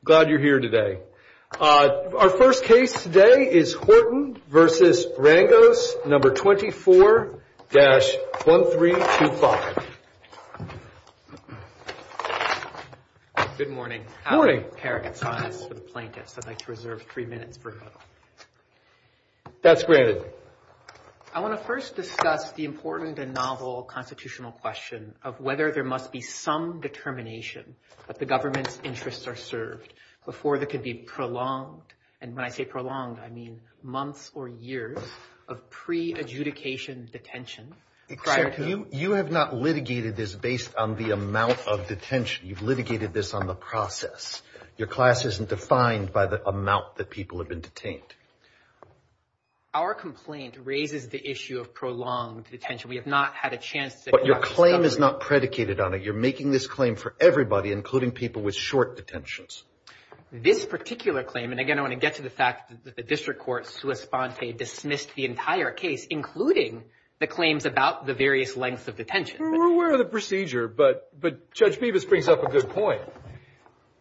I'm glad you're here today. Our first case today is Horton v. Rangos, No. 24-1325. Good morning. I'd like to reserve three minutes. That's granted. I want to first discuss the important and novel constitutional question of whether there must be some determination that the government's interests are served before there could be prolonged, and when I say prolonged I mean months or years, of pre-adjudication detention prior to... Except you have not litigated this based on the amount of detention. You've litigated this on the process. Your class isn't defined by the amount that people have been detained. Our complaint raises the issue of prolonged detention. We have not had a chance to... But your claim is not predicated on it. You're making this claim for everybody, including people with short detentions. This particular claim, and again I want to get to the fact that the district court sui sponte dismissed the entire case, including the claims about the various lengths of detention. We're aware of the procedure, but Judge Bevis brings up a good point.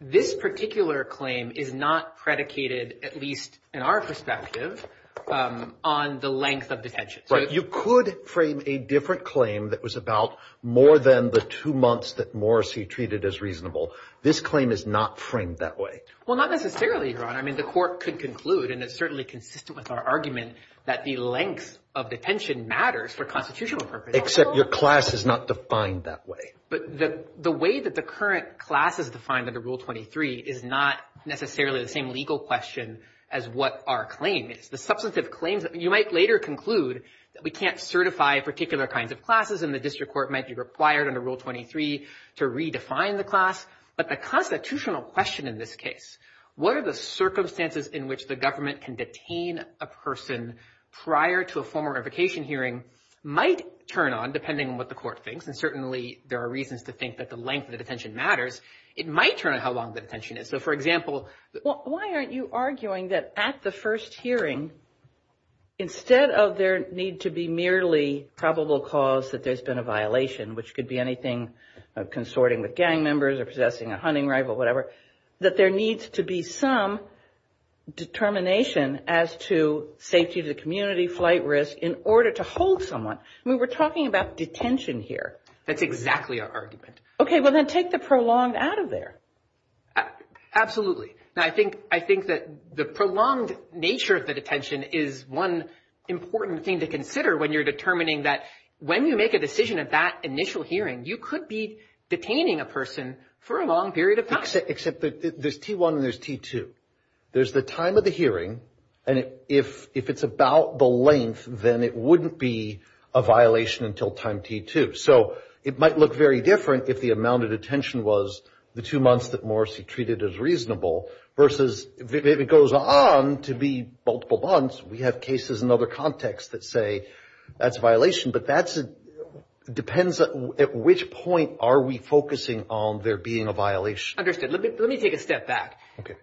This particular claim is not predicated, at least in our perspective, on the length of detention. Right. You could frame a different claim that was about more than the two months that Morrissey treated as reasonable. This claim is not framed that way. Well, not necessarily, Your Honor. I mean, the court could conclude, and it's certainly consistent with our argument, that the length of detention matters for constitutional purposes. Except your class is not defined that way. But the way that the current class is defined under Rule 23 is not necessarily the same legal question as what our claim is. The substantive claims, you might later conclude that we can't certify particular kinds of classes and the district court might be required under Rule 23 to redefine the class. But the constitutional question in this case, what are the circumstances in which the government can detain a person prior to a formal revocation hearing, might turn on, depending on what the court thinks. And certainly there are reasons to think that the length of detention matters. It might turn on how long the detention is. So, for example... Well, why aren't you arguing that at the first hearing, instead of there need to be merely probable cause that there's been a violation, which could be anything consorting with gang members or possessing a hunting rifle, whatever, that there needs to be some determination as to safety to the community, flight risk, in order to hold someone. I mean, we're talking about detention here. That's exactly our argument. Okay, well then take the prolonged out of there. Absolutely. Now, I think that the prolonged nature of the detention is one important thing to consider when you're determining that when you make a decision at that initial hearing, you could be detaining a person for a long period of time. Except that there's T1 and there's T2. There's the time of the hearing, and if it's about the length, then it wouldn't be a violation until time T2. So, it might look very different if the amount of detention was the two months that Morrissey treated as reasonable, versus if it goes on to be multiple months, we have cases in other contexts that say that's a violation. But that depends at which point are we focusing on there being a violation. Understood. Let me take a step back.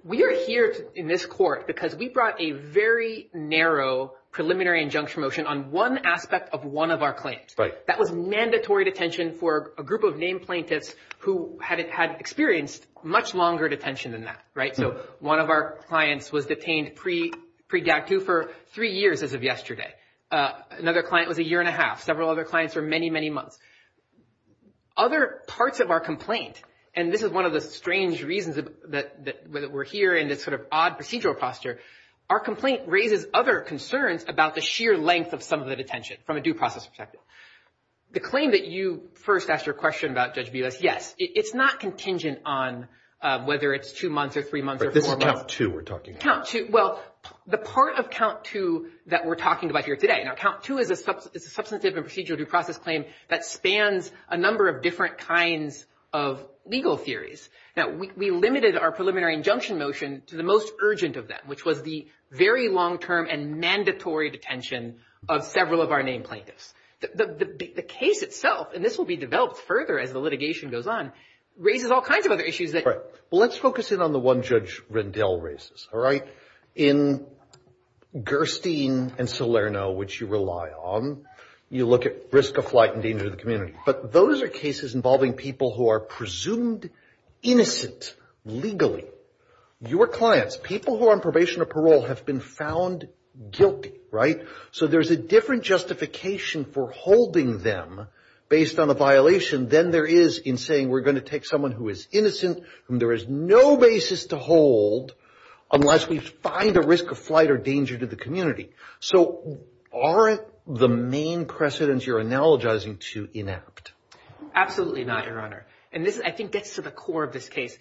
We are here in this court because we brought a very narrow preliminary injunction motion on one aspect of one of our claims. Right. That was mandatory detention for a group of named plaintiffs who had experienced much longer detention than that, right? So, one of our clients was detained pre-GATU for three years as of yesterday. Another client was a year and a half. Several other clients were many, many months. Other parts of our complaint, and this is one of the strange reasons that we're here in this sort of odd procedural posture, our complaint raises other concerns about the sheer length of some of the detention from a due process perspective. The claim that you first asked your question about, Judge Villes, yes. It's not contingent on whether it's two months or three months or four months. But this is count two we're talking about. Count two. Well, the part of count two that we're talking about here today. Now, count two is a substantive and procedural due process claim that spans a number of different kinds of legal theories. Now, we limited our preliminary injunction motion to the most urgent of them, which was the very long-term and mandatory detention of several of our named plaintiffs. The case itself, and this will be developed further as the litigation goes on, raises all kinds of other issues. Right. Well, let's focus in on the one Judge Rendell raises, all right? In Gerstein and Salerno, which you rely on, you look at risk of flight and danger to the community. But those are cases involving people who are presumed innocent legally. Your clients, people who are on probation or parole, have been found guilty, right? So there's a different justification for holding them based on a violation than there is in saying we're going to take someone who is innocent, whom there is no basis to hold, unless we find a risk of flight or danger to the community. So aren't the main precedents you're analogizing too inept? Absolutely not, Your Honor. And this, I think, gets to the core of this case.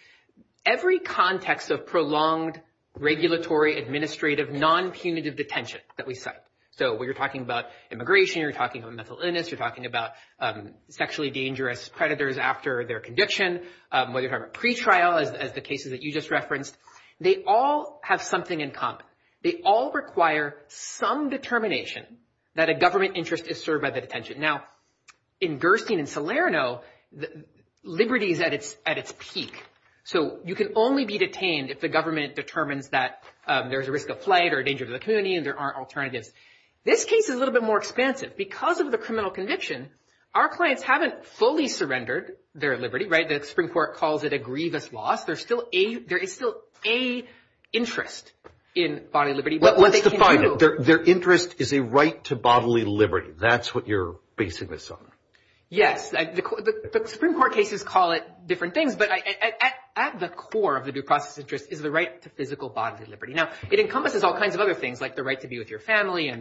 Every context of prolonged, regulatory, administrative, non-punitive detention that we cite, so when you're talking about immigration, you're talking about mental illness, you're talking about sexually dangerous predators after their conviction, whether you're talking about pretrial, as the cases that you just referenced, they all have something in common. They all require some determination that a government interest is served by the detention. Now, in Gerstein and Salerno, liberty is at its peak, so you can only be detained if the government determines that there's a risk of flight or danger to the community and there aren't alternatives. This case is a little bit more expansive. Because of the criminal conviction, our clients haven't fully surrendered their liberty, right? The Supreme Court calls it a grievous loss. There is still a interest in bodily liberty. Let's define it. Their interest is a right to bodily liberty. That's what you're basing this on. Yes. The Supreme Court cases call it different things, but at the core of the due process interest is the right to physical bodily liberty. Now, it encompasses all kinds of other things, like the right to be with your family,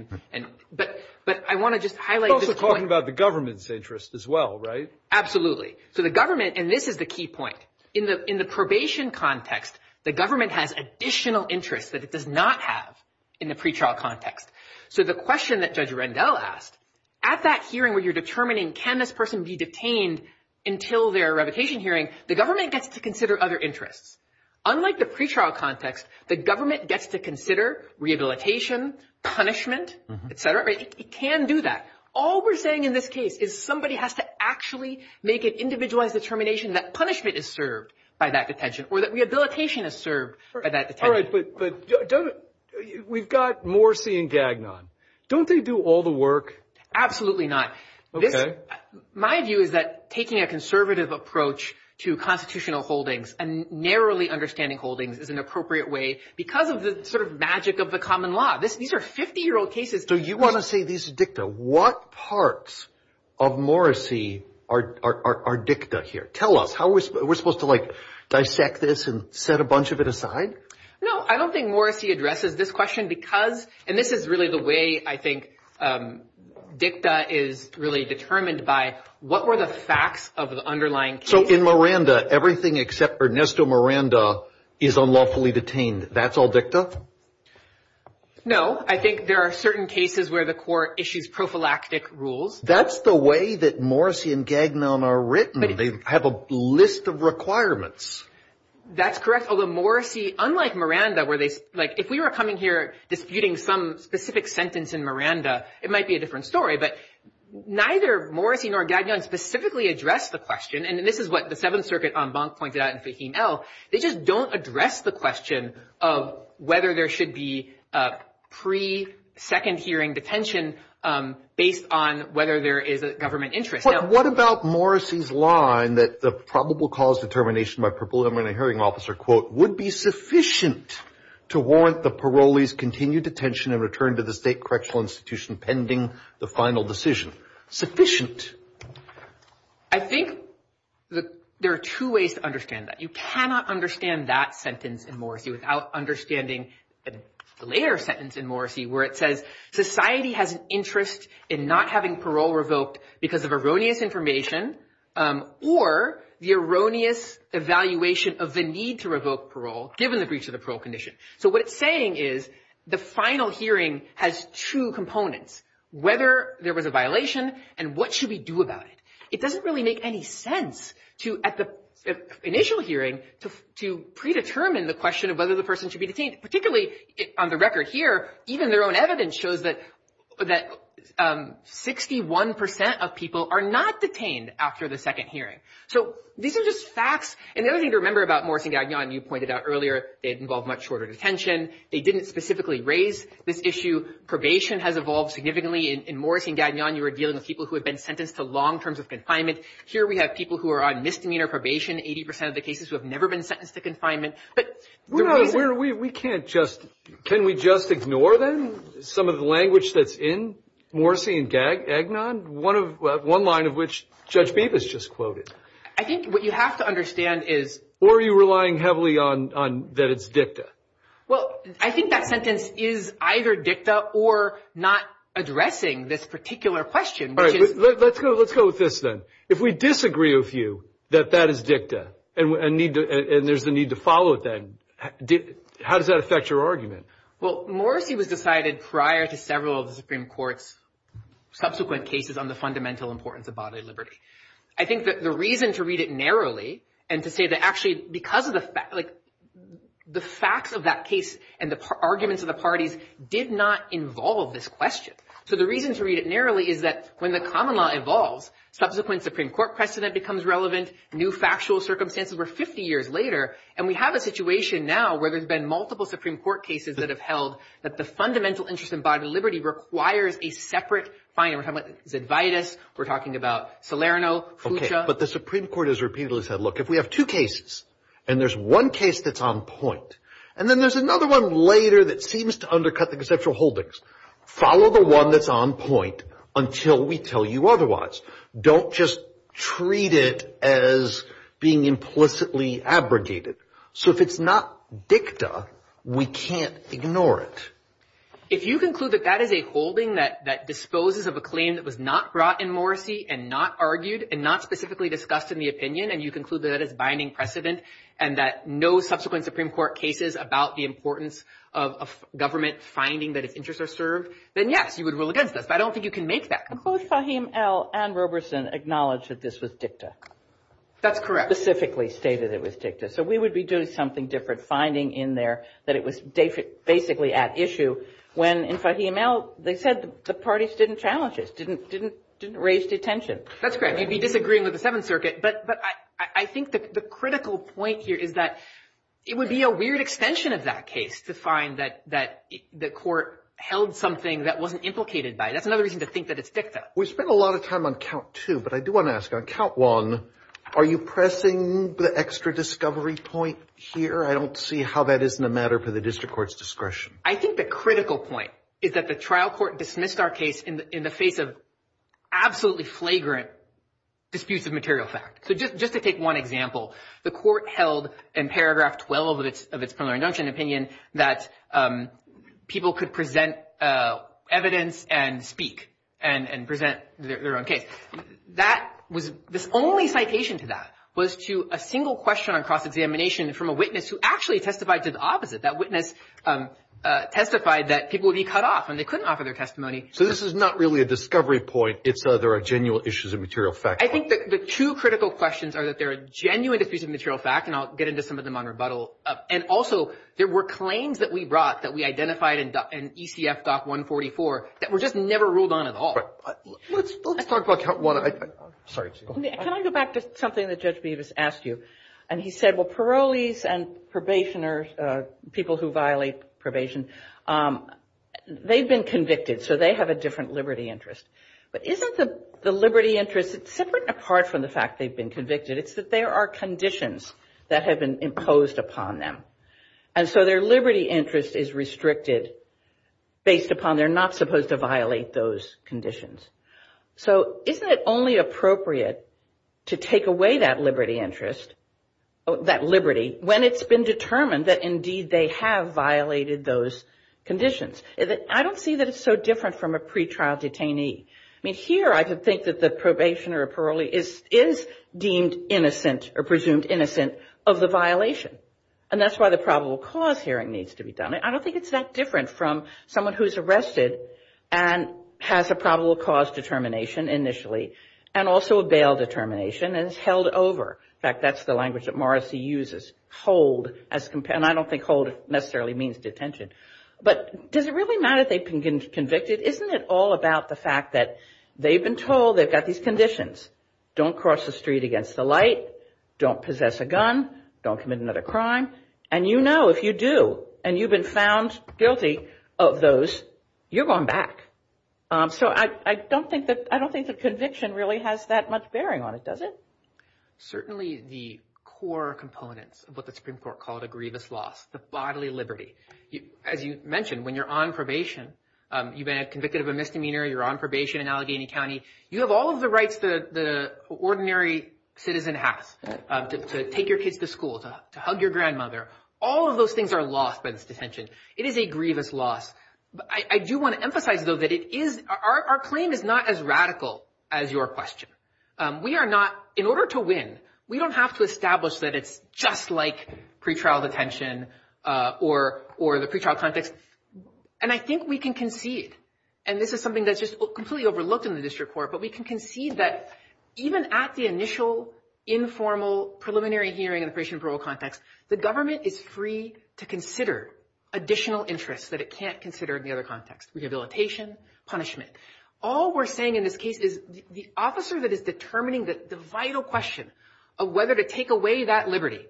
but I want to just highlight this point. You're also talking about the government's interest as well, right? Absolutely. So the government, and this is the key point. In the probation context, the government has additional interests that it does not have in the pretrial context. So the question that Judge Rendell asked, at that hearing where you're determining can this person be detained until their revocation hearing, the government gets to consider other interests. Unlike the pretrial context, the government gets to consider rehabilitation, punishment, et cetera. It can do that. All we're saying in this case is somebody has to actually make an individualized determination that punishment is served by that detention or that rehabilitation is served by that detention. All right, but we've got Morsi and Gagnon. Don't they do all the work? Absolutely not. Okay. My view is that taking a conservative approach to constitutional holdings and narrowly understanding holdings is an appropriate way because of the sort of magic of the common law. These are 50-year-old cases. So you want to say these are dicta. What parts of Morsi are dicta here? Tell us. We're supposed to, like, dissect this and set a bunch of it aside? No, I don't think Morsi addresses this question because, and this is really the way I think dicta is really determined by, what were the facts of the underlying case? So in Miranda, everything except Ernesto Miranda is unlawfully detained. That's all dicta? No. I think there are certain cases where the court issues prophylactic rules. That's the way that Morsi and Gagnon are written. They have a list of requirements. That's correct. Although Morsi, unlike Miranda, where they, like, if we were coming here disputing some specific sentence in Miranda, it might be a different story. But neither Morsi nor Gagnon specifically address the question, and this is what the Seventh Circuit en banc pointed out in Fahim L. They just don't address the question of whether there should be pre-second hearing detention based on whether there is a government interest. What about Morsi's line that the probable cause determination by preliminary hearing officer, quote, would be sufficient to warrant the parolees' continued detention and return to the state correctional institution pending the final decision? Sufficient? I think there are two ways to understand that. You cannot understand that sentence in Morsi without understanding the later sentence in Morsi where it says, society has an interest in not having parole revoked because of erroneous information or the erroneous evaluation of the need to revoke parole given the breach of the parole condition. So what it's saying is the final hearing has two components, whether there was a violation and what should we do about it. It doesn't really make any sense to, at the initial hearing, to predetermine the question of whether the person should be detained, particularly on the record here, even their own evidence shows that 61 percent of people are not detained after the second hearing. So these are just facts. And the other thing to remember about Morsi and Gagnon, you pointed out earlier, they involve much shorter detention. They didn't specifically raise this issue. Probation has evolved significantly. In Morsi and Gagnon, you were dealing with people who had been sentenced to long terms of confinement. Here we have people who are on misdemeanor probation, 80 percent of the cases who have never been sentenced to confinement. But the reason – We can't just – can we just ignore them? Some of the language that's in Morsi and Gagnon, one line of which Judge Bevis just quoted. I think what you have to understand is – Or are you relying heavily on that it's dicta? Well, I think that sentence is either dicta or not addressing this particular question. Let's go with this then. If we disagree with you that that is dicta and there's a need to follow it then, how does that affect your argument? Well, Morsi was decided prior to several of the Supreme Court's subsequent cases on the fundamental importance of bodily liberty. I think that the reason to read it narrowly and to say that actually because of the fact – The facts of that case and the arguments of the parties did not involve this question. So the reason to read it narrowly is that when the common law evolves, subsequent Supreme Court precedent becomes relevant. New factual circumstances were 50 years later. And we have a situation now where there's been multiple Supreme Court cases that have held that the fundamental interest in bodily liberty requires a separate finding. We're talking about Zedvitus. We're talking about Salerno, Fuchsia. Okay, but the Supreme Court has repeatedly said, look, if we have two cases and there's one case that's on point, and then there's another one later that seems to undercut the conceptual holdings, follow the one that's on point until we tell you otherwise. Don't just treat it as being implicitly abrogated. So if it's not dicta, we can't ignore it. If you conclude that that is a holding that disposes of a claim that was not brought in Morrissey and not argued and not specifically discussed in the opinion, and you conclude that that is binding precedent and that no subsequent Supreme Court cases about the importance of government finding that its interests are served, then, yes, you would rule against us. But I don't think you can make that. Both Fahim L. and Roberson acknowledged that this was dicta. That's correct. Specifically stated it was dicta. So we would be doing something different finding in there that it was basically at issue when, in Fahim L., they said the parties didn't challenge it, didn't raise detention. That's correct. You'd be disagreeing with the Seventh Circuit. But I think the critical point here is that it would be a weird extension of that case to find that the court held something that wasn't implicated by it. That's another reason to think that it's dicta. We've spent a lot of time on count two, but I do want to ask, on count one, are you pressing the extra discovery point here? I don't see how that isn't a matter for the district court's discretion. I think the critical point is that the trial court dismissed our case in the face of absolutely flagrant disputes of material fact. So just to take one example, the court held in paragraph 12 of its preliminary injunction opinion that people could present evidence and speak and present their own case. That was the only citation to that was to a single question on cross-examination from a witness who actually testified to the opposite. That witness testified that people would be cut off when they couldn't offer their testimony. So this is not really a discovery point. It's that there are genuine issues of material fact. I think the two critical questions are that there are genuine disputes of material fact, and I'll get into some of them on rebuttal. And also, there were claims that we brought that we identified in ECF Doc 144 that were just never ruled on at all. Let's talk about count one. Sorry. Can I go back to something that Judge Beavis asked you? And he said, well, parolees and probationers, people who violate probation, they've been convicted, so they have a different liberty interest. But isn't the liberty interest, it's separate and apart from the fact they've been convicted, it's that there are conditions that have been imposed upon them. And so their liberty interest is restricted based upon they're not supposed to violate those conditions. So isn't it only appropriate to take away that liberty interest, that liberty, when it's been determined that indeed they have violated those conditions? I don't see that it's so different from a pretrial detainee. I mean, here I could think that the probationer or parolee is deemed innocent or presumed innocent of the violation. And that's why the probable cause hearing needs to be done. I don't think it's that different from someone who's arrested and has a probable cause determination initially and also a bail determination and is held over. In fact, that's the language that Morrissey uses, hold. And I don't think hold necessarily means detention. But does it really matter if they've been convicted? Isn't it all about the fact that they've been told they've got these conditions? Don't cross the street against the light. Don't possess a gun. Don't commit another crime. And you know if you do and you've been found guilty of those, you're going back. So I don't think that conviction really has that much bearing on it, does it? Certainly the core components of what the Supreme Court called a grievous loss, the bodily liberty. As you mentioned, when you're on probation, you've been convicted of a misdemeanor, you're on probation in Allegheny County, you have all of the rights that an ordinary citizen has to take your kids to school, to hug your grandmother. All of those things are lost by this detention. It is a grievous loss. I do want to emphasize, though, that our claim is not as radical as your question. We are not, in order to win, we don't have to establish that it's just like pretrial detention or the pretrial context. And I think we can concede, and this is something that's just completely overlooked in the district court, but we can concede that even at the initial, informal, preliminary hearing in the probation and parole context, the government is free to consider additional interests that it can't consider in the other context. Rehabilitation, punishment. All we're saying in this case is the officer that is determining the vital question of whether to take away that liberty,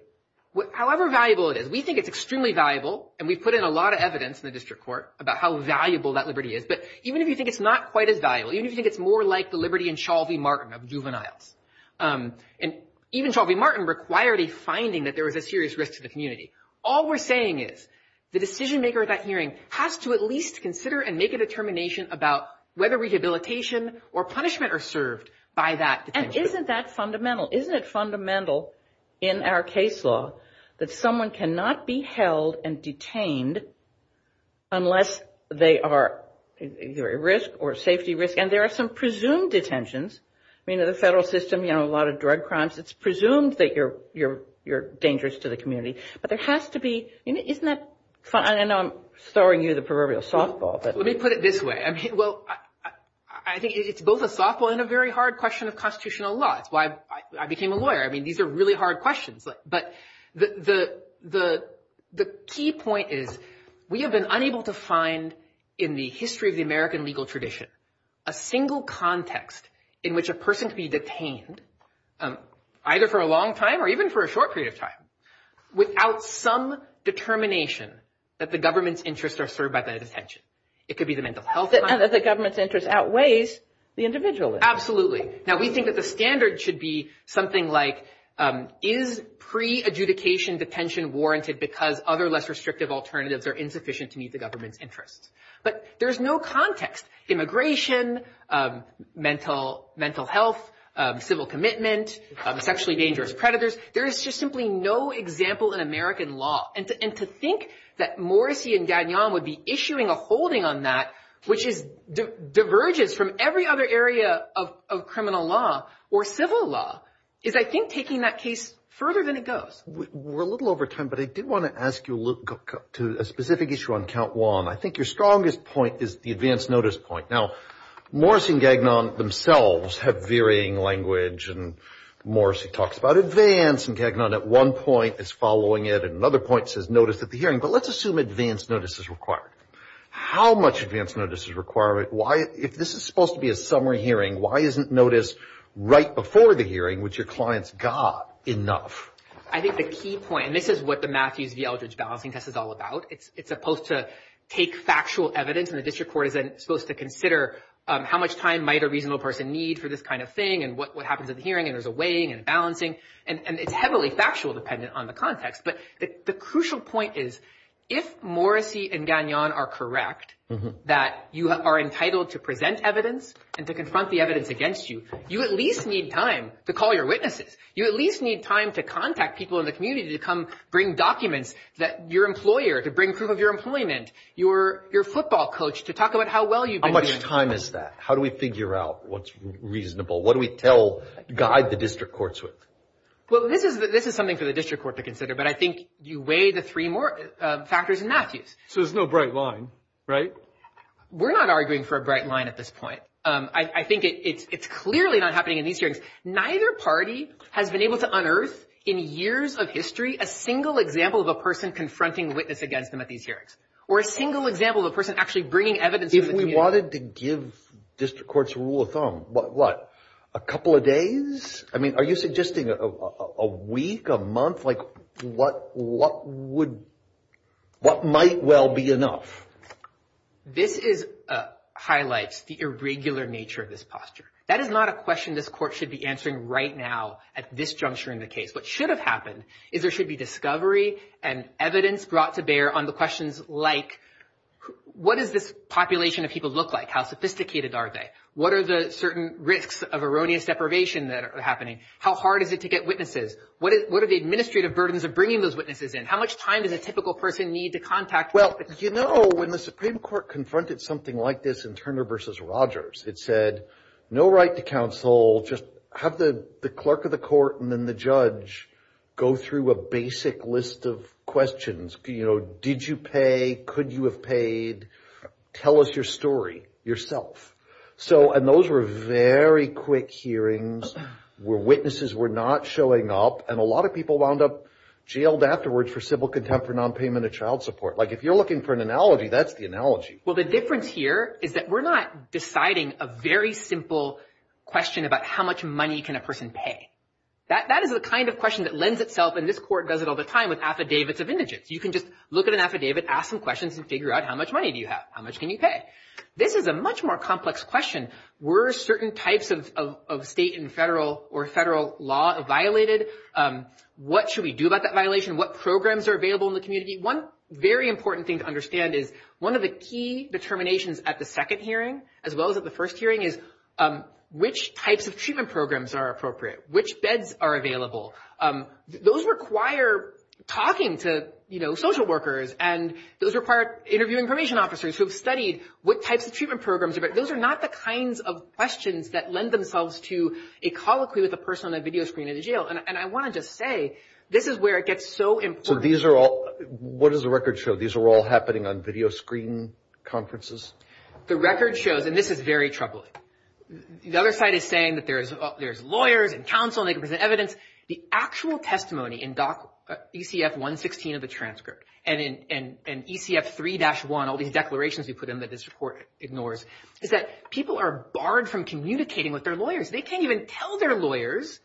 however valuable it is, we think it's extremely valuable, and we've put in a lot of evidence in the district court about how valuable that liberty is, but even if you think it's not quite as valuable, even if you think it's more like the liberty in Chauley-Martin of juveniles, and even Chauley-Martin required a finding that there was a serious risk to the community, all we're saying is the decision-maker at that hearing has to at least consider and make a determination about whether rehabilitation or punishment are served by that detention. And isn't that fundamental? Isn't it fundamental in our case law that someone cannot be held and detained unless they are at risk or safety risk? And there are some presumed detentions. I mean, in the federal system, you know, a lot of drug crimes, it's presumed that you're dangerous to the community, but there has to be – isn't that – and I know I'm throwing you the proverbial softball. Let me put it this way. I mean, well, I think it's both a softball and a very hard question of constitutional law. It's why I became a lawyer. I mean, these are really hard questions. But the key point is we have been unable to find in the history of the American legal tradition a single context in which a person could be detained, either for a long time or even for a short period of time, without some determination that the government's interests are served by that detention. It could be the mental health. And that the government's interest outweighs the individual. Absolutely. Now, we think that the standard should be something like is pre-adjudication detention warranted because other less restrictive alternatives are insufficient to meet the government's interests. But there's no context. Immigration, mental health, civil commitment, sexually dangerous predators. There is just simply no example in American law. And to think that Morrissey and Gagnon would be issuing a holding on that, which diverges from every other area of criminal law or civil law, is, I think, taking that case further than it goes. We're a little over time, but I did want to ask you a specific issue on Count Juan. I think your strongest point is the advance notice point. Now, Morrissey and Gagnon themselves have varying language. And Morrissey talks about advance. And Gagnon at one point is following it. And another point says notice at the hearing. But let's assume advance notice is required. How much advance notice is required? If this is supposed to be a summary hearing, why isn't notice right before the hearing, which your clients got, enough? I think the key point, and this is what the Matthews v. Eldridge balancing test is all about. It's supposed to take factual evidence. And the district court is supposed to consider how much time might a reasonable person need for this kind of thing and what happens at the hearing. And there's a weighing and balancing. And it's heavily factual dependent on the context. But the crucial point is, if Morrissey and Gagnon are correct that you are entitled to present evidence and to confront the evidence against you, you at least need time to call your witnesses. You at least need time to contact people in the community to come bring documents that your employer, to bring proof of your employment, your football coach to talk about how well you've been doing. How much time is that? How do we figure out what's reasonable? What do we guide the district courts with? Well, this is something for the district court to consider. But I think you weigh the three more factors in Matthews. So there's no bright line, right? We're not arguing for a bright line at this point. I think it's clearly not happening in these hearings. Neither party has been able to unearth in years of history a single example of a person confronting witness against them at these hearings. Or a single example of a person actually bringing evidence to the community. If we wanted to give district courts a rule of thumb, what, a couple of days? I mean, are you suggesting a week, a month? Like what might well be enough? This highlights the irregular nature of this posture. That is not a question this court should be answering right now at this juncture in the case. What should have happened is there should be discovery and evidence brought to bear on the questions like, what does this population of people look like? How sophisticated are they? What are the certain risks of erroneous deprivation that are happening? How hard is it to get witnesses? What are the administrative burdens of bringing those witnesses in? How much time does a typical person need to contact? Well, you know, when the Supreme Court confronted something like this in Turner v. Rogers, it said no right to counsel, just have the clerk of the court and then the judge go through a basic list of questions. You know, did you pay? Could you have paid? Tell us your story yourself. So and those were very quick hearings where witnesses were not showing up. And a lot of people wound up jailed afterwards for civil contempt for nonpayment of child support. Like if you're looking for an analogy, that's the analogy. Well, the difference here is that we're not deciding a very simple question about how much money can a person pay. That is the kind of question that lends itself, and this court does it all the time, with affidavits of indigents. You can just look at an affidavit, ask some questions, and figure out how much money do you have? How much can you pay? This is a much more complex question. Were certain types of state and federal or federal law violated? What should we do about that violation? What programs are available in the community? One very important thing to understand is one of the key determinations at the second hearing, as well as at the first hearing, is which types of treatment programs are appropriate. Which beds are available? Those require talking to, you know, social workers. And those require interviewing information officers who have studied what types of treatment programs. Those are not the kinds of questions that lend themselves to a colloquy with a person on a video screen in a jail. And I want to just say this is where it gets so important. So these are all – what does the record show? These are all happening on video screen conferences? The record shows – and this is very troubling. The other side is saying that there's lawyers and counsel and they can present evidence. The actual testimony in ECF 116 of the transcript and in ECF 3-1, all these declarations we put in that this court ignores, is that people are barred from communicating with their lawyers. They can't even tell their lawyers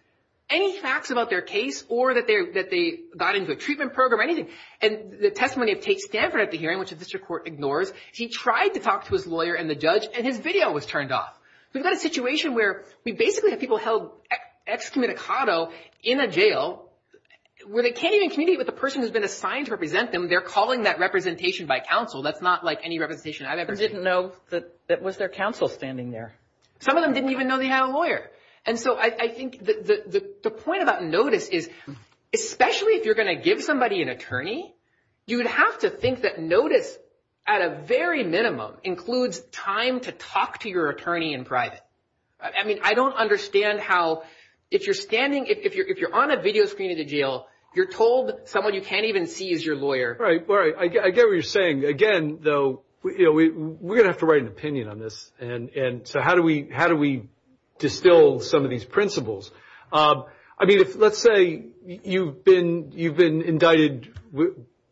any facts about their case or that they got into a treatment program or anything. And the testimony of Tate Stanford at the hearing, which the district court ignores, he tried to talk to his lawyer and the judge and his video was turned off. We've got a situation where we basically have people held excommunicado in a jail where they can't even communicate with the person who's been assigned to represent them. They're calling that representation by counsel. That's not like any representation I've ever seen. They didn't know that it was their counsel standing there. Some of them didn't even know they had a lawyer. And so I think the point about notice is, especially if you're going to give somebody an attorney, you would have to think that notice at a very minimum includes time to talk to your attorney in private. I mean, I don't understand how if you're standing – if you're on a video screen in a jail, you're told someone you can't even see is your lawyer. Right, right. I get what you're saying. Again, though, we're going to have to write an opinion on this. And so how do we distill some of these principles? I mean, let's say you've been indicted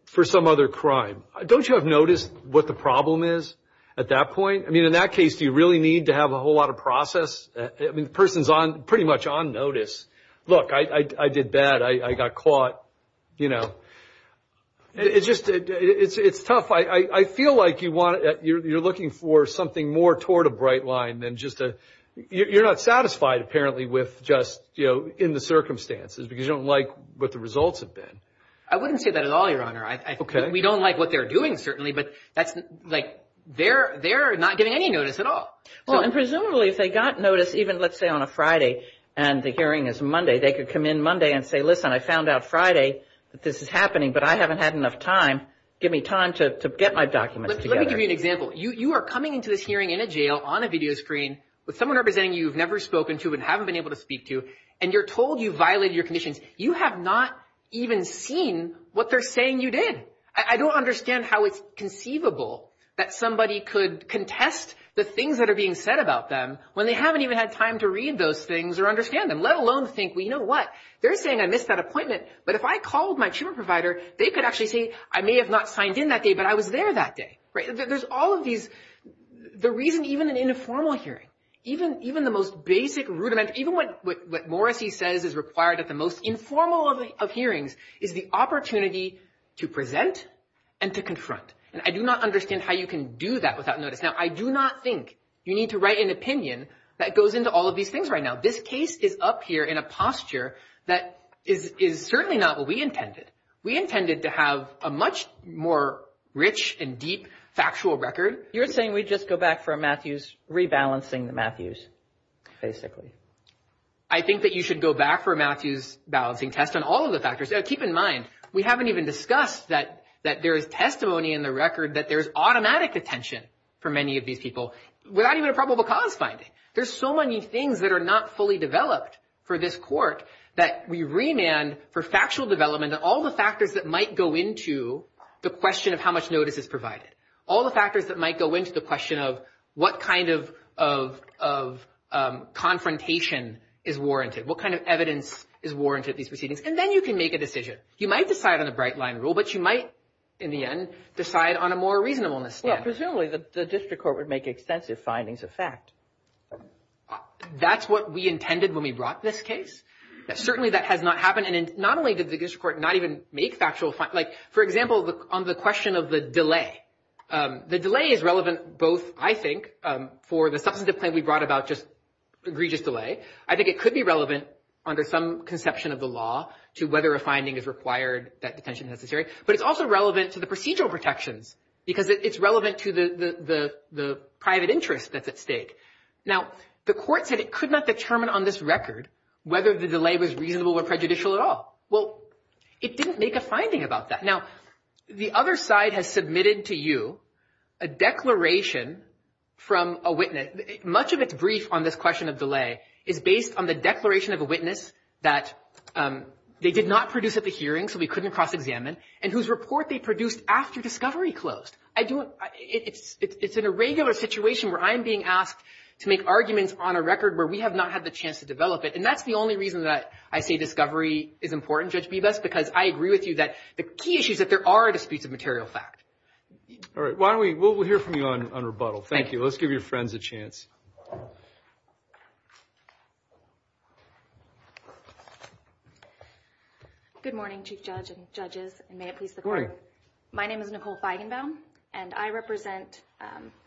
for some other crime. Don't you have notice what the problem is at that point? I mean, in that case, do you really need to have a whole lot of process? I mean, the person's pretty much on notice. Look, I did bad. I got caught. It's tough. I feel like you're looking for something more toward a bright line than just a – you're not satisfied, apparently, with just in the circumstances because you don't like what the results have been. I wouldn't say that at all, Your Honor. We don't like what they're doing, certainly, but that's – they're not getting any notice at all. Well, and presumably if they got notice even, let's say, on a Friday and the hearing is Monday, they could come in Monday and say, listen, I found out Friday that this is happening, but I haven't had enough time. Give me time to get my documents together. Let me give you an example. You are coming into this hearing in a jail on a video screen with someone representing you who you've never spoken to and haven't been able to speak to, and you're told you violated your conditions. You have not even seen what they're saying you did. I don't understand how it's conceivable that somebody could contest the things that are being said about them when they haven't even had time to read those things or understand them, let alone think, well, you know what, they're saying I missed that appointment, but if I called my tumor provider, they could actually say I may have not signed in that day, but I was there that day. There's all of these – the reason even an informal hearing, even the most basic rudiment, even what Morrissey says is required at the most informal of hearings, is the opportunity to present and to confront. And I do not understand how you can do that without notice. Now, I do not think you need to write an opinion that goes into all of these things right now. This case is up here in a posture that is certainly not what we intended. We intended to have a much more rich and deep factual record. You're saying we just go back for a Matthews rebalancing the Matthews, basically. I think that you should go back for a Matthews balancing test on all of the factors. Keep in mind, we haven't even discussed that there is testimony in the record that there is automatic detention for many of these people without even a probable cause finding. There's so many things that are not fully developed for this court that we remand for factual development and all the factors that might go into the question of how much notice is provided, all the factors that might go into the question of what kind of confrontation is warranted, what kind of evidence is warranted at these proceedings. And then you can make a decision. You might decide on a bright-line rule, but you might, in the end, decide on a more reasonableness standard. Presumably, the district court would make extensive findings of fact. That's what we intended when we brought this case. Certainly, that has not happened. And not only did the district court not even make factual, like, for example, on the question of the delay. The delay is relevant both, I think, for the substantive claim we brought about just egregious delay. I think it could be relevant under some conception of the law to whether a finding is required that detention is necessary. But it's also relevant to the procedural protections because it's relevant to the private interest that's at stake. Now, the court said it could not determine on this record whether the delay was reasonable or prejudicial at all. Well, it didn't make a finding about that. Now, the other side has submitted to you a declaration from a witness. Much of its brief on this question of delay is based on the declaration of a witness that they did not produce at the hearing, so we couldn't cross-examine, and whose report they produced after discovery closed. It's in a regular situation where I'm being asked to make arguments on a record where we have not had the chance to develop it. And that's the only reason that I say discovery is important, Judge Bibas, because I agree with you that the key issue is that there are disputes of material fact. All right. We'll hear from you on rebuttal. Thank you. Let's give your friends a chance. Good morning, Chief Judge and judges, and may it please the court. My name is Nicole Feigenbaum, and I represent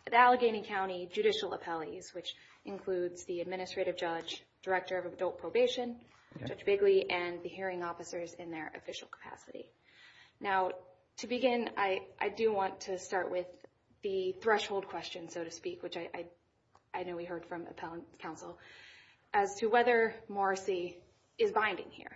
the Allegheny County Judicial Appellees, which includes the Administrative Judge, Director of Adult Probation, Judge Bigley, and the hearing officers in their official capacity. Now, to begin, I do want to start with the threshold question, so to speak, which I know we heard from appellant counsel, as to whether Morrissey is binding here.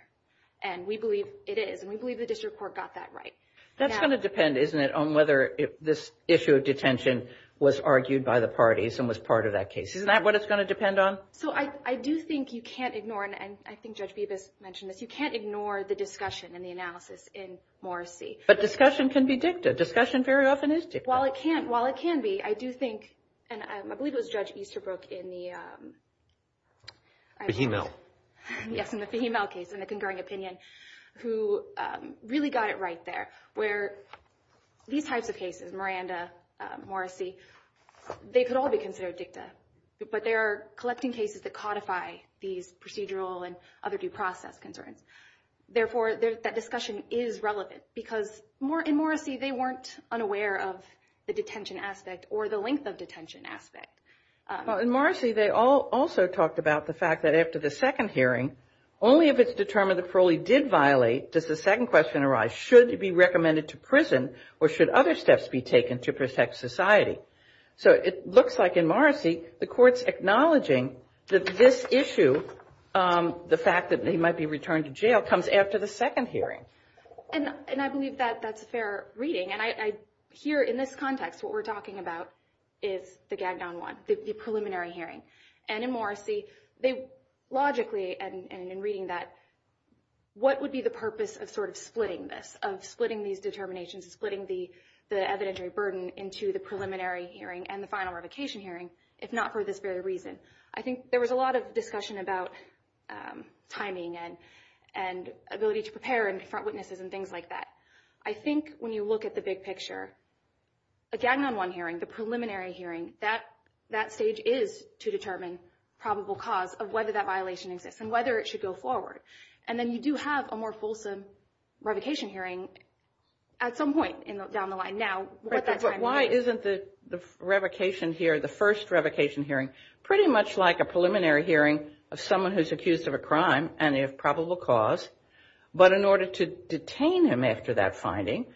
And we believe it is, and we believe the district court got that right. That's going to depend, isn't it, on whether this issue of detention was argued by the parties and was part of that case. Isn't that what it's going to depend on? So I do think you can't ignore, and I think Judge Bibas mentioned this, you can't ignore the discussion and the analysis in Morrissey. But discussion can be dicta. Discussion very often is dicta. While it can be, I do think, and I believe it was Judge Easterbrook in the… Fahimel. Yes, in the Fahimel case, in the concurring opinion, who really got it right there, where these types of cases, Miranda, Morrissey, they could all be considered dicta, but they are collecting cases that codify these procedural and other due process concerns. Therefore, that discussion is relevant because in Morrissey, they weren't unaware of the detention aspect or the length of detention aspect. Well, in Morrissey, they also talked about the fact that after the second hearing, only if it's determined that Parolee did violate does the second question arise, should it be recommended to prison or should other steps be taken to protect society? So it looks like in Morrissey, the court's acknowledging that this issue, the fact that he might be returned to jail, comes after the second hearing. And I believe that that's a fair reading. And I hear in this context what we're talking about is the gagged-down one, the preliminary hearing. And in Morrissey, they logically, and in reading that, what would be the purpose of sort of splitting this, of splitting these determinations, splitting the evidentiary burden into the preliminary hearing and the final revocation hearing if not for this very reason? I think there was a lot of discussion about timing and ability to prepare and front witnesses and things like that. I think when you look at the big picture, a gagged-down one hearing, the preliminary hearing, that stage is to determine probable cause of whether that violation exists and whether it should go forward. And then you do have a more fulsome revocation hearing at some point down the line. Now, what that timing is. But why isn't the revocation here, the first revocation hearing, pretty much like a preliminary hearing of someone who's accused of a crime and of probable cause, but in order to detain him after that finding,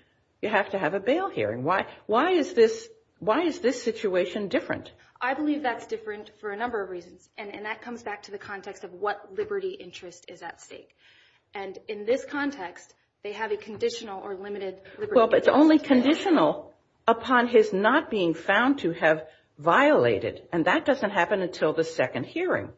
you have to have a bail hearing? Why is this situation different? I believe that's different for a number of reasons, and that comes back to the context of what liberty interest is at stake. And in this context, they have a conditional or limited liberty interest. Well, but it's only conditional upon his not being found to have violated, and that doesn't happen until the second hearing.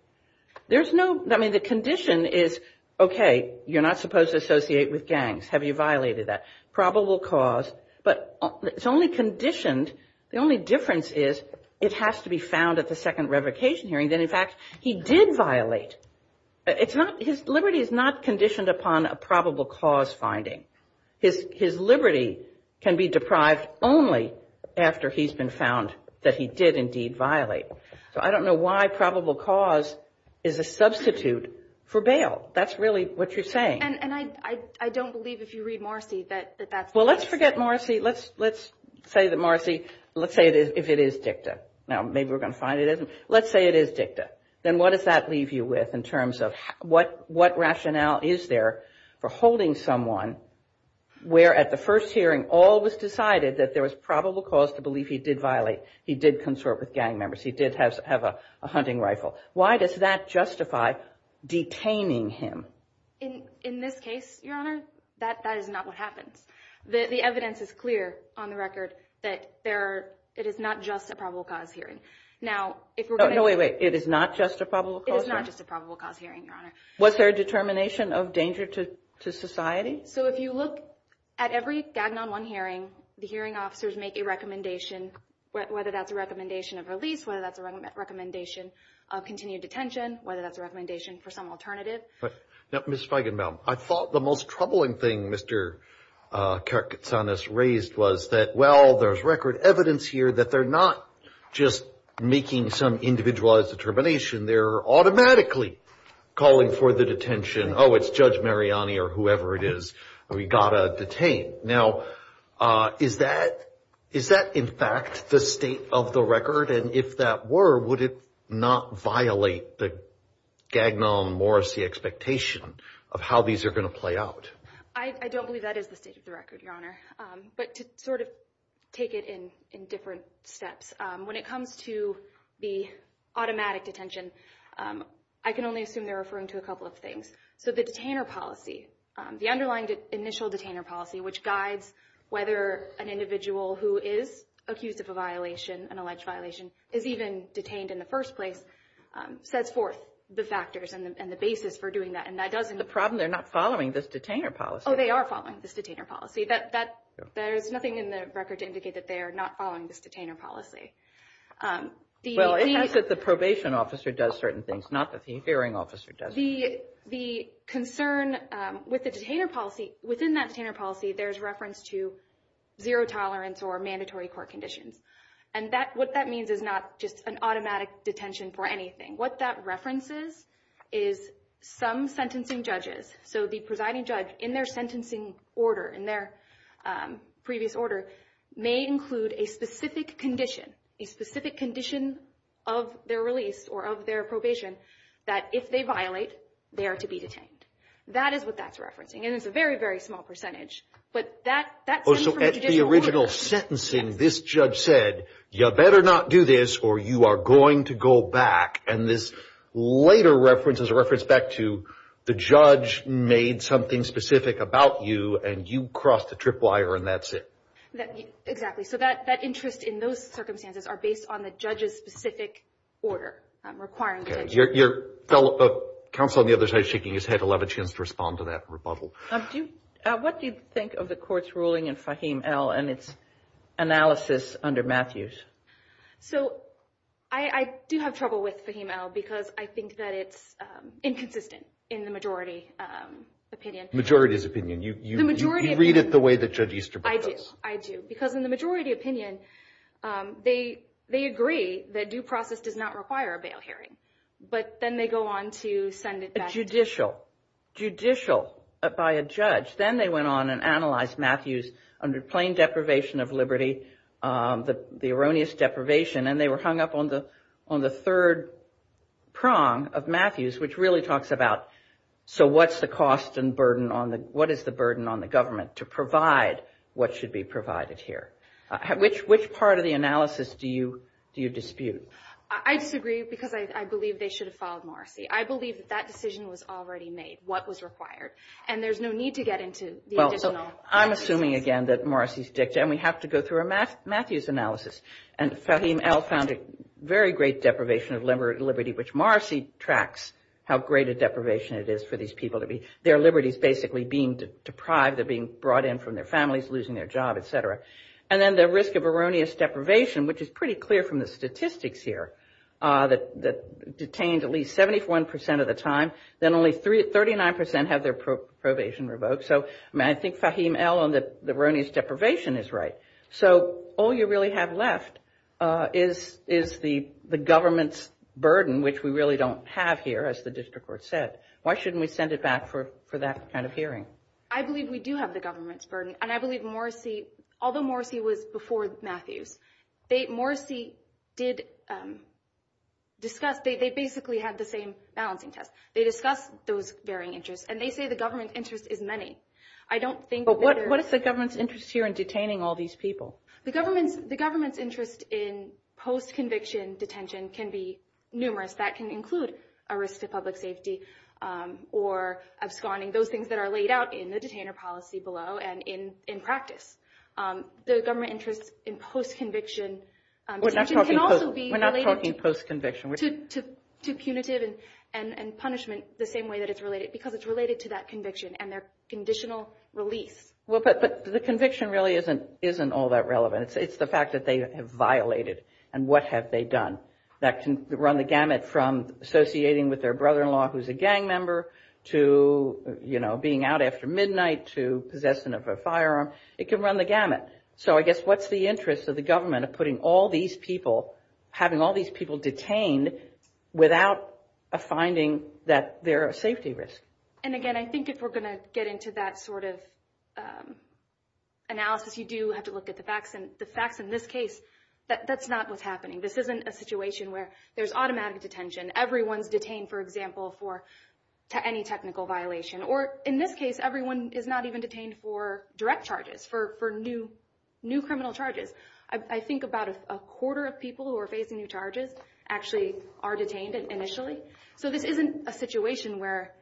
There's no, I mean, the condition is, okay, you're not supposed to associate with gangs. Have you violated that probable cause? But it's only conditioned, the only difference is it has to be found at the second revocation hearing, then, in fact, he did violate. It's not, his liberty is not conditioned upon a probable cause finding. His liberty can be deprived only after he's been found that he did indeed violate. So I don't know why probable cause is a substitute for bail. That's really what you're saying. And I don't believe, if you read Marcy, that that's the best thing. Well, let's forget Marcy. Let's say that Marcy, let's say if it is dicta. Now, maybe we're going to find it isn't. Let's say it is dicta. Then what does that leave you with in terms of what rationale is there for holding someone where at the first hearing all was decided that there was probable cause to believe he did violate, he did consort with gang members, he did have a hunting rifle. Why does that justify detaining him? In this case, Your Honor, that is not what happens. The evidence is clear on the record that there are, it is not just a probable cause hearing. Now, if we're going to. No, wait, wait. It is not just a probable cause hearing? It is not just a probable cause hearing, Your Honor. Was there a determination of danger to society? So if you look at every Gagnon 1 hearing, the hearing officers make a recommendation, whether that's a recommendation of release, whether that's a recommendation of continued detention, whether that's a recommendation for some alternative. Ms. Feigenbaum, I thought the most troubling thing Mr. Katsanis raised was that, well, there's record evidence here that they're not just making some individualized determination. They're automatically calling for the detention. Oh, it's Judge Mariani or whoever it is. We've got to detain. Now, is that in fact the state of the record? And if that were, would it not violate the Gagnon-Morrissey expectation of how these are going to play out? I don't believe that is the state of the record, Your Honor. But to sort of take it in different steps, when it comes to the automatic detention, I can only assume they're referring to a couple of things. So the detainer policy, the underlying initial detainer policy, which guides whether an individual who is accused of a violation, an alleged violation, is even detained in the first place, sets forth the factors and the basis for doing that. And that doesn't mean – The problem, they're not following this detainer policy. Oh, they are following this detainer policy. There's nothing in the record to indicate that they are not following this detainer policy. Well, it says that the probation officer does certain things, not that the hearing officer does certain things. The concern with the detainer policy, within that detainer policy, there's reference to zero tolerance or mandatory court conditions. And what that means is not just an automatic detention for anything. What that references is some sentencing judges. So the presiding judge, in their sentencing order, in their previous order, may include a specific condition, a specific condition of their release or of their probation, that if they violate, they are to be detained. That is what that's referencing. And it's a very, very small percentage. But that stems from the judicial order. So at the original sentencing, this judge said, you better not do this or you are going to go back. And this later reference is a reference back to the judge made something specific about you, and you crossed the trip wire and that's it. Exactly. So that interest in those circumstances are based on the judge's specific order requiring detention. Your fellow counsel on the other side shaking his head will have a chance to respond to that rebuttal. What do you think of the court's ruling in Fahim L. and its analysis under Matthews? So I do have trouble with Fahim L. because I think that it's inconsistent in the majority opinion. Majority's opinion. You read it the way that Judge Easterbrook does. I do. Because in the majority opinion, they agree that due process does not require a bail hearing. But then they go on to send it back. Judicial. Judicial by a judge. Then they went on and analyzed Matthews under plain deprivation of liberty, the erroneous deprivation, and they were hung up on the third prong of Matthews, which really talks about, so what's the cost and burden on the, what is the burden on the government to provide what should be provided here? Which part of the analysis do you dispute? I disagree because I believe they should have followed Morrissey. I believe that that decision was already made, what was required. And there's no need to get into the additional. I'm assuming again that Morrissey's dicta, and we have to go through a Matthews analysis. And Fahim El found a very great deprivation of liberty, which Morrissey tracks how great a deprivation it is for these people to be. Their liberty is basically being deprived of being brought in from their families, losing their job, et cetera. And then the risk of erroneous deprivation, which is pretty clear from the statistics here, that detained at least 71% of the time, then only 39% have their probation revoked. So I think Fahim El on the erroneous deprivation is right. So all you really have left is the government's burden, which we really don't have here, as the district court said. Why shouldn't we send it back for that kind of hearing? I believe we do have the government's burden. And I believe Morrissey, although Morrissey was before Matthews, Morrissey did discuss, they basically had the same balancing test. They discussed those varying interests, and they say the government interest is many. But what is the government's interest here in detaining all these people? The government's interest in post-conviction detention can be numerous. That can include a risk to public safety or absconding, those things that are laid out in the detainer policy below and in practice. The government interest in post-conviction can also be related to punitive and punishment the same way that it's related, because it's related to that conviction and their conditional release. Well, but the conviction really isn't all that relevant. It's the fact that they have violated, and what have they done? That can run the gamut from associating with their brother-in-law who's a gang member to, you know, being out after midnight to possession of a firearm. It can run the gamut. So I guess what's the interest of the government of putting all these people, having all these people detained without a finding that they're a safety risk? And again, I think if we're going to get into that sort of analysis, you do have to look at the facts. And the facts in this case, that's not what's happening. This isn't a situation where there's automatic detention. Everyone's detained, for example, for any technical violation. Or in this case, everyone is not even detained for direct charges, for new criminal charges. I think about a quarter of people who are facing new charges actually are detained initially. So this isn't a situation where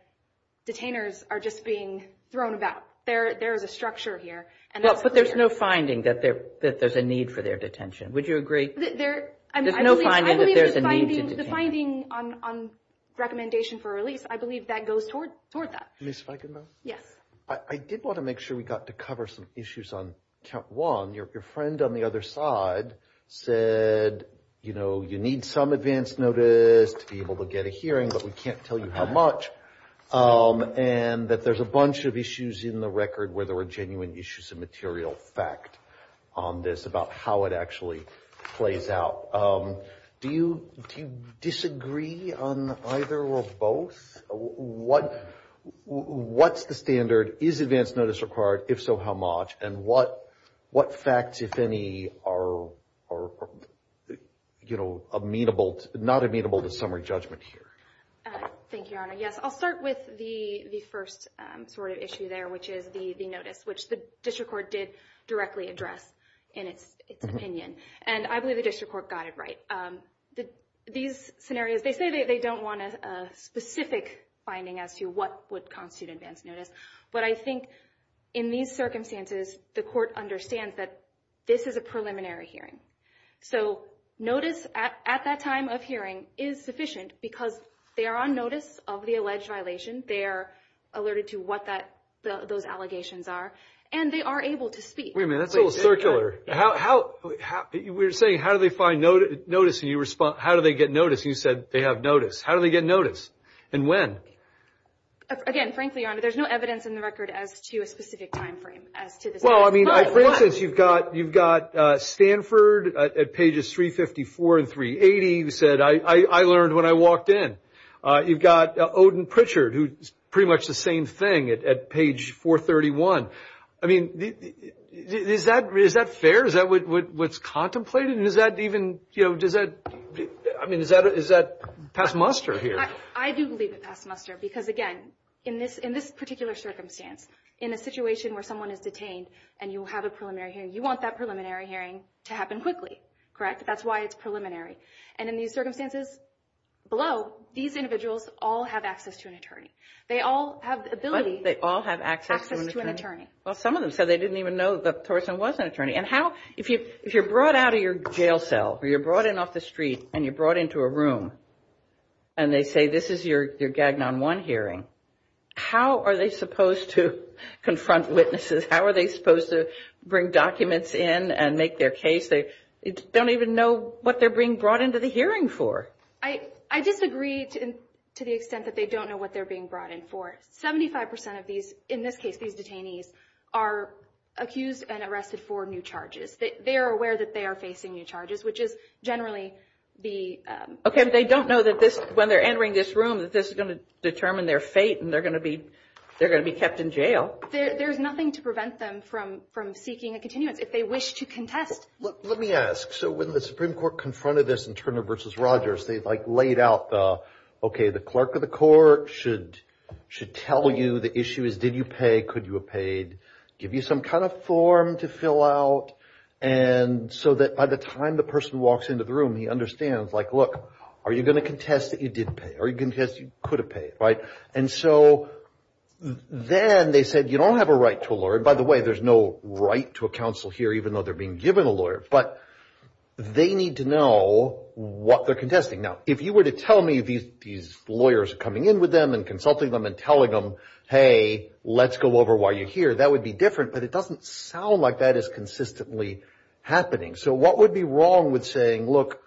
detainers are just being thrown about. There is a structure here. But there's no finding that there's a need for their detention. Would you agree? There's no finding that there's a need to detain them. The finding on recommendation for release, I believe that goes toward that. Ms. Feigenbaum? Yes. I did want to make sure we got to cover some issues on count one. Your friend on the other side said, you know, you need some advance notice to be able to get a hearing, but we can't tell you how much. And that there's a bunch of issues in the record where there were genuine issues of material fact on this about how it actually plays out. Do you disagree on either or both? What's the standard? Is advance notice required? If so, how much? And what facts, if any, are, you know, not amenable to summary judgment here? Thank you, Your Honor. Yes, I'll start with the first sort of issue there, which is the notice, which the district court did directly address in its opinion. And I believe the district court got it right. These scenarios, they say they don't want a specific finding as to what would constitute advance notice. But I think in these circumstances, the court understands that this is a preliminary hearing. So notice at that time of hearing is sufficient because they are on notice of the alleged violation. They are alerted to what those allegations are, and they are able to speak. Wait a minute. That's a little circular. We're saying how do they find notice, and you respond, how do they get notice? And you said they have notice. How do they get notice and when? Again, frankly, Your Honor, there's no evidence in the record as to a specific time frame as to this. Well, I mean, for instance, you've got Stanford at pages 354 and 380 who said, I learned when I walked in. You've got Odin Pritchard, who's pretty much the same thing, at page 431. I mean, is that fair? Is that what's contemplated? And is that even, you know, does that, I mean, is that past muster here? I do believe it's past muster because, again, in this particular circumstance, in a situation where someone is detained and you have a preliminary hearing, you want that preliminary hearing to happen quickly, correct? That's why it's preliminary. And in these circumstances below, these individuals all have access to an attorney. They all have the ability to access to an attorney. They all have access to an attorney. Well, some of them said they didn't even know that Thorson was an attorney. And how, if you're brought out of your jail cell or you're brought in off the street and you're brought into a room and they say this is your Gagnon 1 hearing, how are they supposed to confront witnesses? How are they supposed to bring documents in and make their case? They don't even know what they're being brought into the hearing for. I disagree to the extent that they don't know what they're being brought in for. Seventy-five percent of these, in this case, these detainees, are accused and arrested for new charges. They are aware that they are facing new charges, which is generally the – Okay, but they don't know that this, when they're entering this room, that this is going to determine their fate and they're going to be kept in jail. There's nothing to prevent them from seeking a continuance if they wish to contest. Let me ask. So when the Supreme Court confronted this in Turner v. Rogers, they, like, laid out, okay, the clerk of the court should tell you the issue is did you pay, could you have paid, give you some kind of form to fill out, and so that by the time the person walks into the room, he understands, like, look, are you going to contest that you did pay? Are you going to contest you could have paid, right? And so then they said you don't have a right to a lawyer. By the way, there's no right to a counsel here, even though they're being given a lawyer. But they need to know what they're contesting. Now, if you were to tell me these lawyers are coming in with them and consulting them and telling them, hey, let's go over why you're here, that would be different, but it doesn't sound like that is consistently happening. So what would be wrong with saying, look,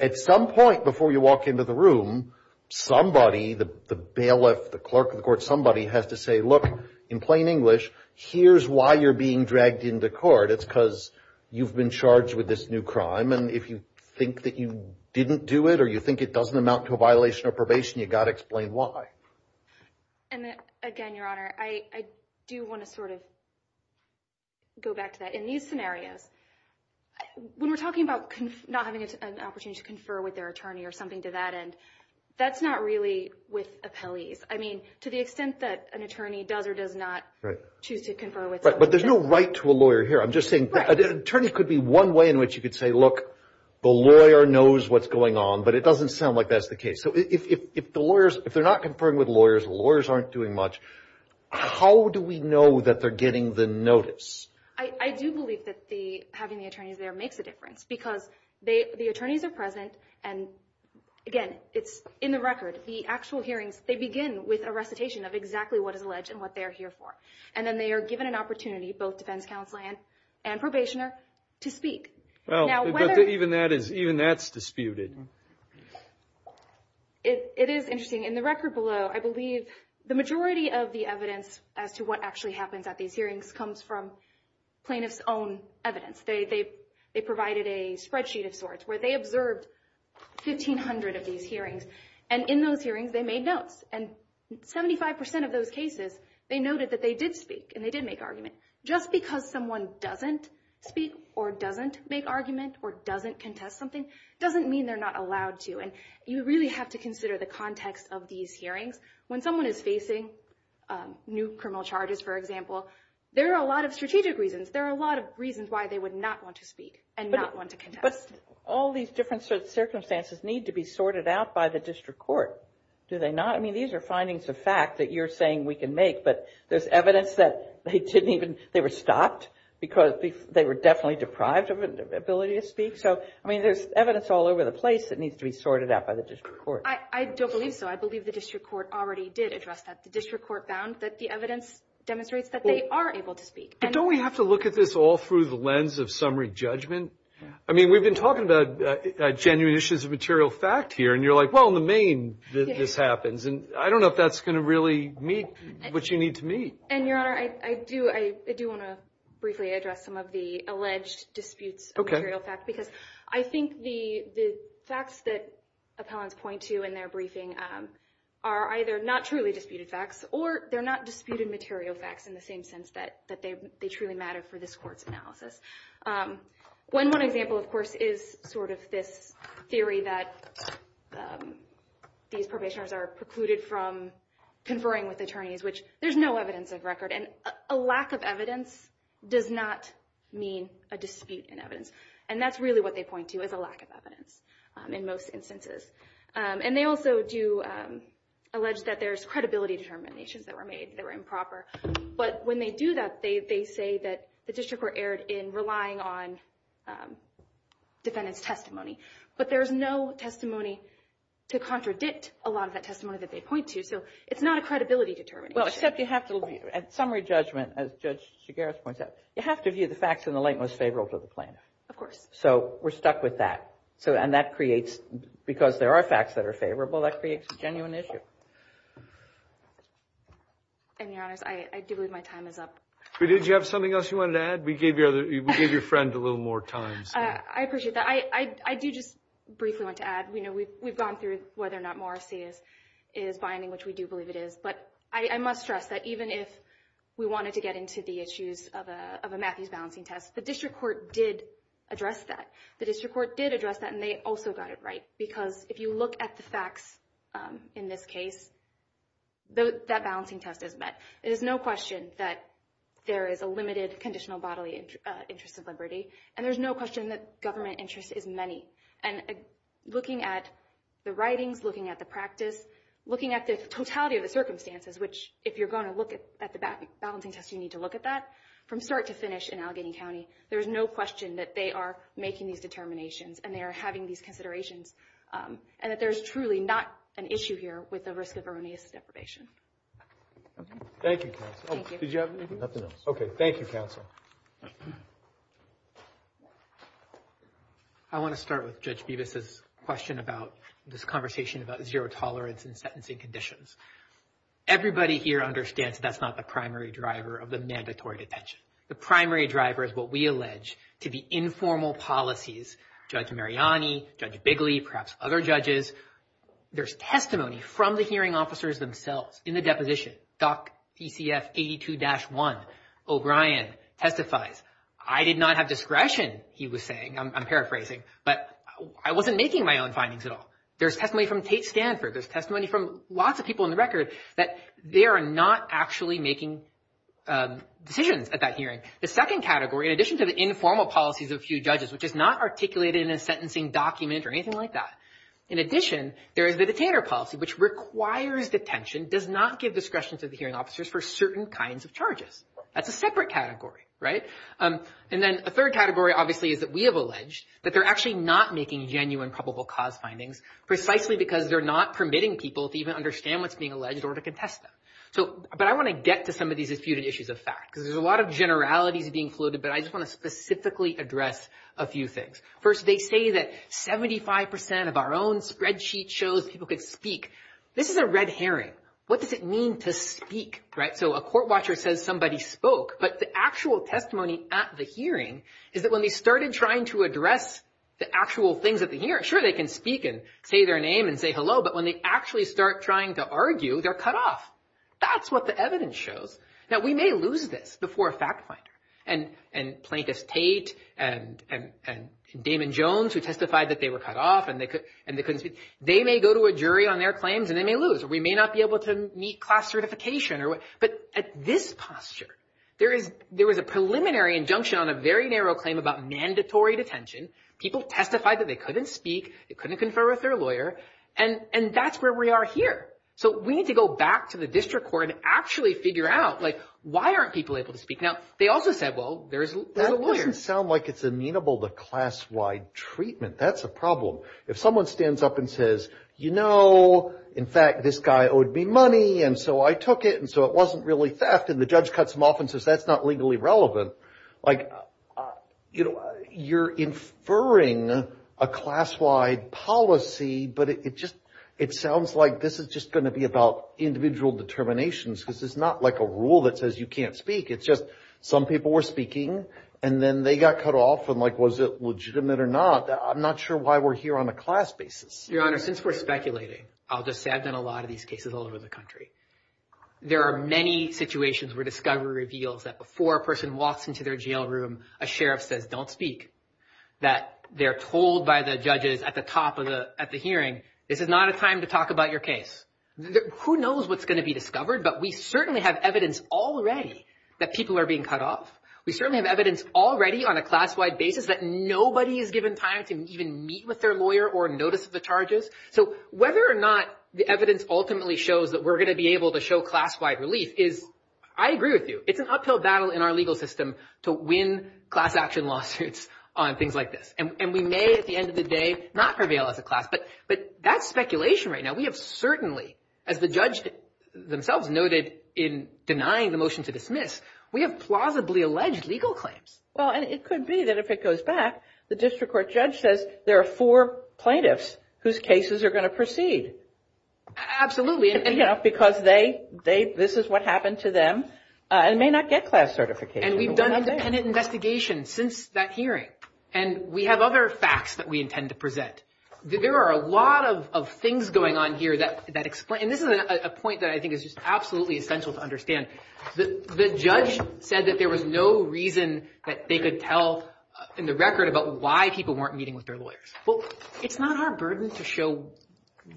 at some point before you walk into the room, somebody, the bailiff, the clerk of the court, somebody has to say, look, in plain English, here's why you're being dragged into court. It's because you've been charged with this new crime, and if you think that you didn't do it or you think it doesn't amount to a violation of probation, you've got to explain why. And again, Your Honor, I do want to sort of go back to that. In these scenarios, when we're talking about not having an opportunity to confer with their attorney or something to that end, that's not really with appellees. I mean, to the extent that an attorney does or does not choose to confer with somebody. But there's no right to a lawyer here. I'm just saying attorneys could be one way in which you could say, look, the lawyer knows what's going on, but it doesn't sound like that's the case. So if the lawyers, if they're not conferring with lawyers, lawyers aren't doing much, how do we know that they're getting the notice? I do believe that having the attorneys there makes a difference because the attorneys are present, and again, it's in the record. The actual hearings, they begin with a recitation of exactly what is alleged and what they're here for. And then they are given an opportunity, both defense counsel and probationer, to speak. Even that's disputed. It is interesting. In the record below, I believe the majority of the evidence as to what actually happens at these hearings comes from plaintiff's own evidence. They provided a spreadsheet of sorts where they observed 1,500 of these hearings. And in those hearings, they made notes. And 75% of those cases, they noted that they did speak and they did make arguments. And just because someone doesn't speak or doesn't make argument or doesn't contest something, doesn't mean they're not allowed to. And you really have to consider the context of these hearings. When someone is facing new criminal charges, for example, there are a lot of strategic reasons. There are a lot of reasons why they would not want to speak and not want to contest. But all these different circumstances need to be sorted out by the district court, do they not? I mean, these are findings of fact that you're saying we can make, but there's evidence that they didn't even, they were stopped because they were definitely deprived of an ability to speak. So, I mean, there's evidence all over the place that needs to be sorted out by the district court. I don't believe so. I believe the district court already did address that. The district court found that the evidence demonstrates that they are able to speak. Don't we have to look at this all through the lens of summary judgment? I mean, we've been talking about genuine issues of material fact here. And you're like, well, in the main, this happens. And I don't know if that's going to really meet what you need to meet. And, Your Honor, I do want to briefly address some of the alleged disputes of material fact. Okay. Because I think the facts that appellants point to in their briefing are either not truly disputed facts or they're not disputed material facts in the same sense that they truly matter for this court's analysis. One example, of course, is sort of this theory that these probationers are precluded from conferring with attorneys, which there's no evidence of record. And a lack of evidence does not mean a dispute in evidence. And that's really what they point to is a lack of evidence in most instances. And they also do allege that there's credibility determinations that were made that were improper. But when they do that, they say that the district were erred in relying on defendant's testimony. But there's no testimony to contradict a lot of that testimony that they point to. So it's not a credibility determination. Well, except you have to view it. At summary judgment, as Judge Chigares points out, you have to view the facts in the light most favorable to the plaintiff. Of course. So we're stuck with that. And that creates, because there are facts that are favorable, that creates a genuine issue. And, Your Honors, I do believe my time is up. Did you have something else you wanted to add? We gave your friend a little more time. I appreciate that. I do just briefly want to add, you know, we've gone through whether or not Morrissey is binding, which we do believe it is. But I must stress that even if we wanted to get into the issues of a Matthews balancing test, the district court did address that. The district court did address that, and they also got it right. Because if you look at the facts in this case, that balancing test is met. It is no question that there is a limited conditional bodily interest of liberty. And there's no question that government interest is many. And looking at the writings, looking at the practice, looking at the totality of the circumstances, which if you're going to look at the balancing test, you need to look at that, from start to finish in Allegheny County, there is no question that they are making these determinations, and they are having these considerations, and that there is truly not an issue here with the risk of erroneous deprivation. Thank you, Counsel. Thank you. Did you have anything else? Nothing else. Okay. Thank you, Counsel. I want to start with Judge Bevis' question about this conversation about zero tolerance and sentencing conditions. Everybody here understands that that's not the primary driver of the mandatory detention. The primary driver is what we allege to be informal policies. Judge Mariani, Judge Bigley, perhaps other judges, there's testimony from the hearing officers themselves in the deposition. Doc PCF 82-1, O'Brien, testifies. I did not have discretion, he was saying. I'm paraphrasing. But I wasn't making my own findings at all. There's testimony from Tate Stanford. There's testimony from lots of people on the record that they are not actually making decisions at that hearing. The second category, in addition to the informal policies of a few judges, which is not articulated in a sentencing document or anything like that, in addition there is the detainer policy, which requires detention, does not give discretion to the hearing officers for certain kinds of charges. That's a separate category, right? And then a third category, obviously, is that we have alleged that they're actually not making genuine probable cause findings, precisely because they're not permitting people to even understand what's being alleged or to contest them. But I want to get to some of these disputed issues of fact, because there's a lot of generalities being floated, but I just want to specifically address a few things. First, they say that 75% of our own spreadsheet shows people could speak. This is a red herring. What does it mean to speak, right? So a court watcher says somebody spoke, but the actual testimony at the hearing is that when they started trying to address the actual things at the hearing, sure, they can speak and say their name and say hello, but when they actually start trying to argue, they're cut off. That's what the evidence shows. Now, we may lose this before a fact finder and Plaintiff's Tate and Damon Jones, who testified that they were cut off and they couldn't speak. They may go to a jury on their claims and they may lose. We may not be able to meet class certification. But at this posture, there was a preliminary injunction on a very narrow claim about mandatory detention. People testified that they couldn't speak, they couldn't confer with their lawyer, and that's where we are here. So we need to go back to the district court and actually figure out, like, why aren't people able to speak? Now, they also said, well, there's a lawyer. That doesn't sound like it's amenable to class-wide treatment. That's a problem. If someone stands up and says, you know, in fact, this guy owed me money and so I took it and so it wasn't really theft and the judge cuts him off and says that's not legally relevant, like, you know, you're inferring a class-wide policy, but it just it sounds like this is just going to be about individual determinations. This is not like a rule that says you can't speak. It's just some people were speaking and then they got cut off. And like, was it legitimate or not? I'm not sure why we're here on a class basis. Your Honor, since we're speculating, I'll just say I've done a lot of these cases all over the country. There are many situations where discovery reveals that before a person walks into their jail room, a sheriff says don't speak, that they're told by the judges at the top of the hearing, this is not a time to talk about your case. Who knows what's going to be discovered, but we certainly have evidence already that people are being cut off. We certainly have evidence already on a class-wide basis that nobody is given time to even meet with their lawyer or notice of the charges. So whether or not the evidence ultimately shows that we're going to be able to show class-wide relief is, I agree with you, it's an uphill battle in our legal system to win class-action lawsuits on things like this. And we may at the end of the day not prevail as a class, but that's speculation right now. We have certainly, as the judge themselves noted in denying the motion to dismiss, we have plausibly alleged legal claims. Well, and it could be that if it goes back, the district court judge says there are four plaintiffs whose cases are going to proceed. Absolutely. Because this is what happened to them and may not get class certification. And we've done independent investigation since that hearing, and we have other facts that we intend to present. There are a lot of things going on here that explain, and this is a point that I think is just absolutely essential to understand. The judge said that there was no reason that they could tell in the record about why people weren't meeting with their lawyers. Well, it's not our burden to show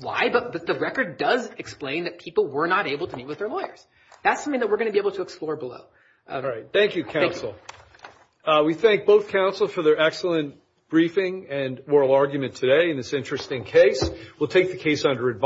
why, but the record does explain that people were not able to meet with their lawyers. That's something that we're going to be able to explore below. All right. Thank you, counsel. Thank you. We thank both counsel for their excellent briefing and moral argument today in this interesting case. We'll take the case under advice.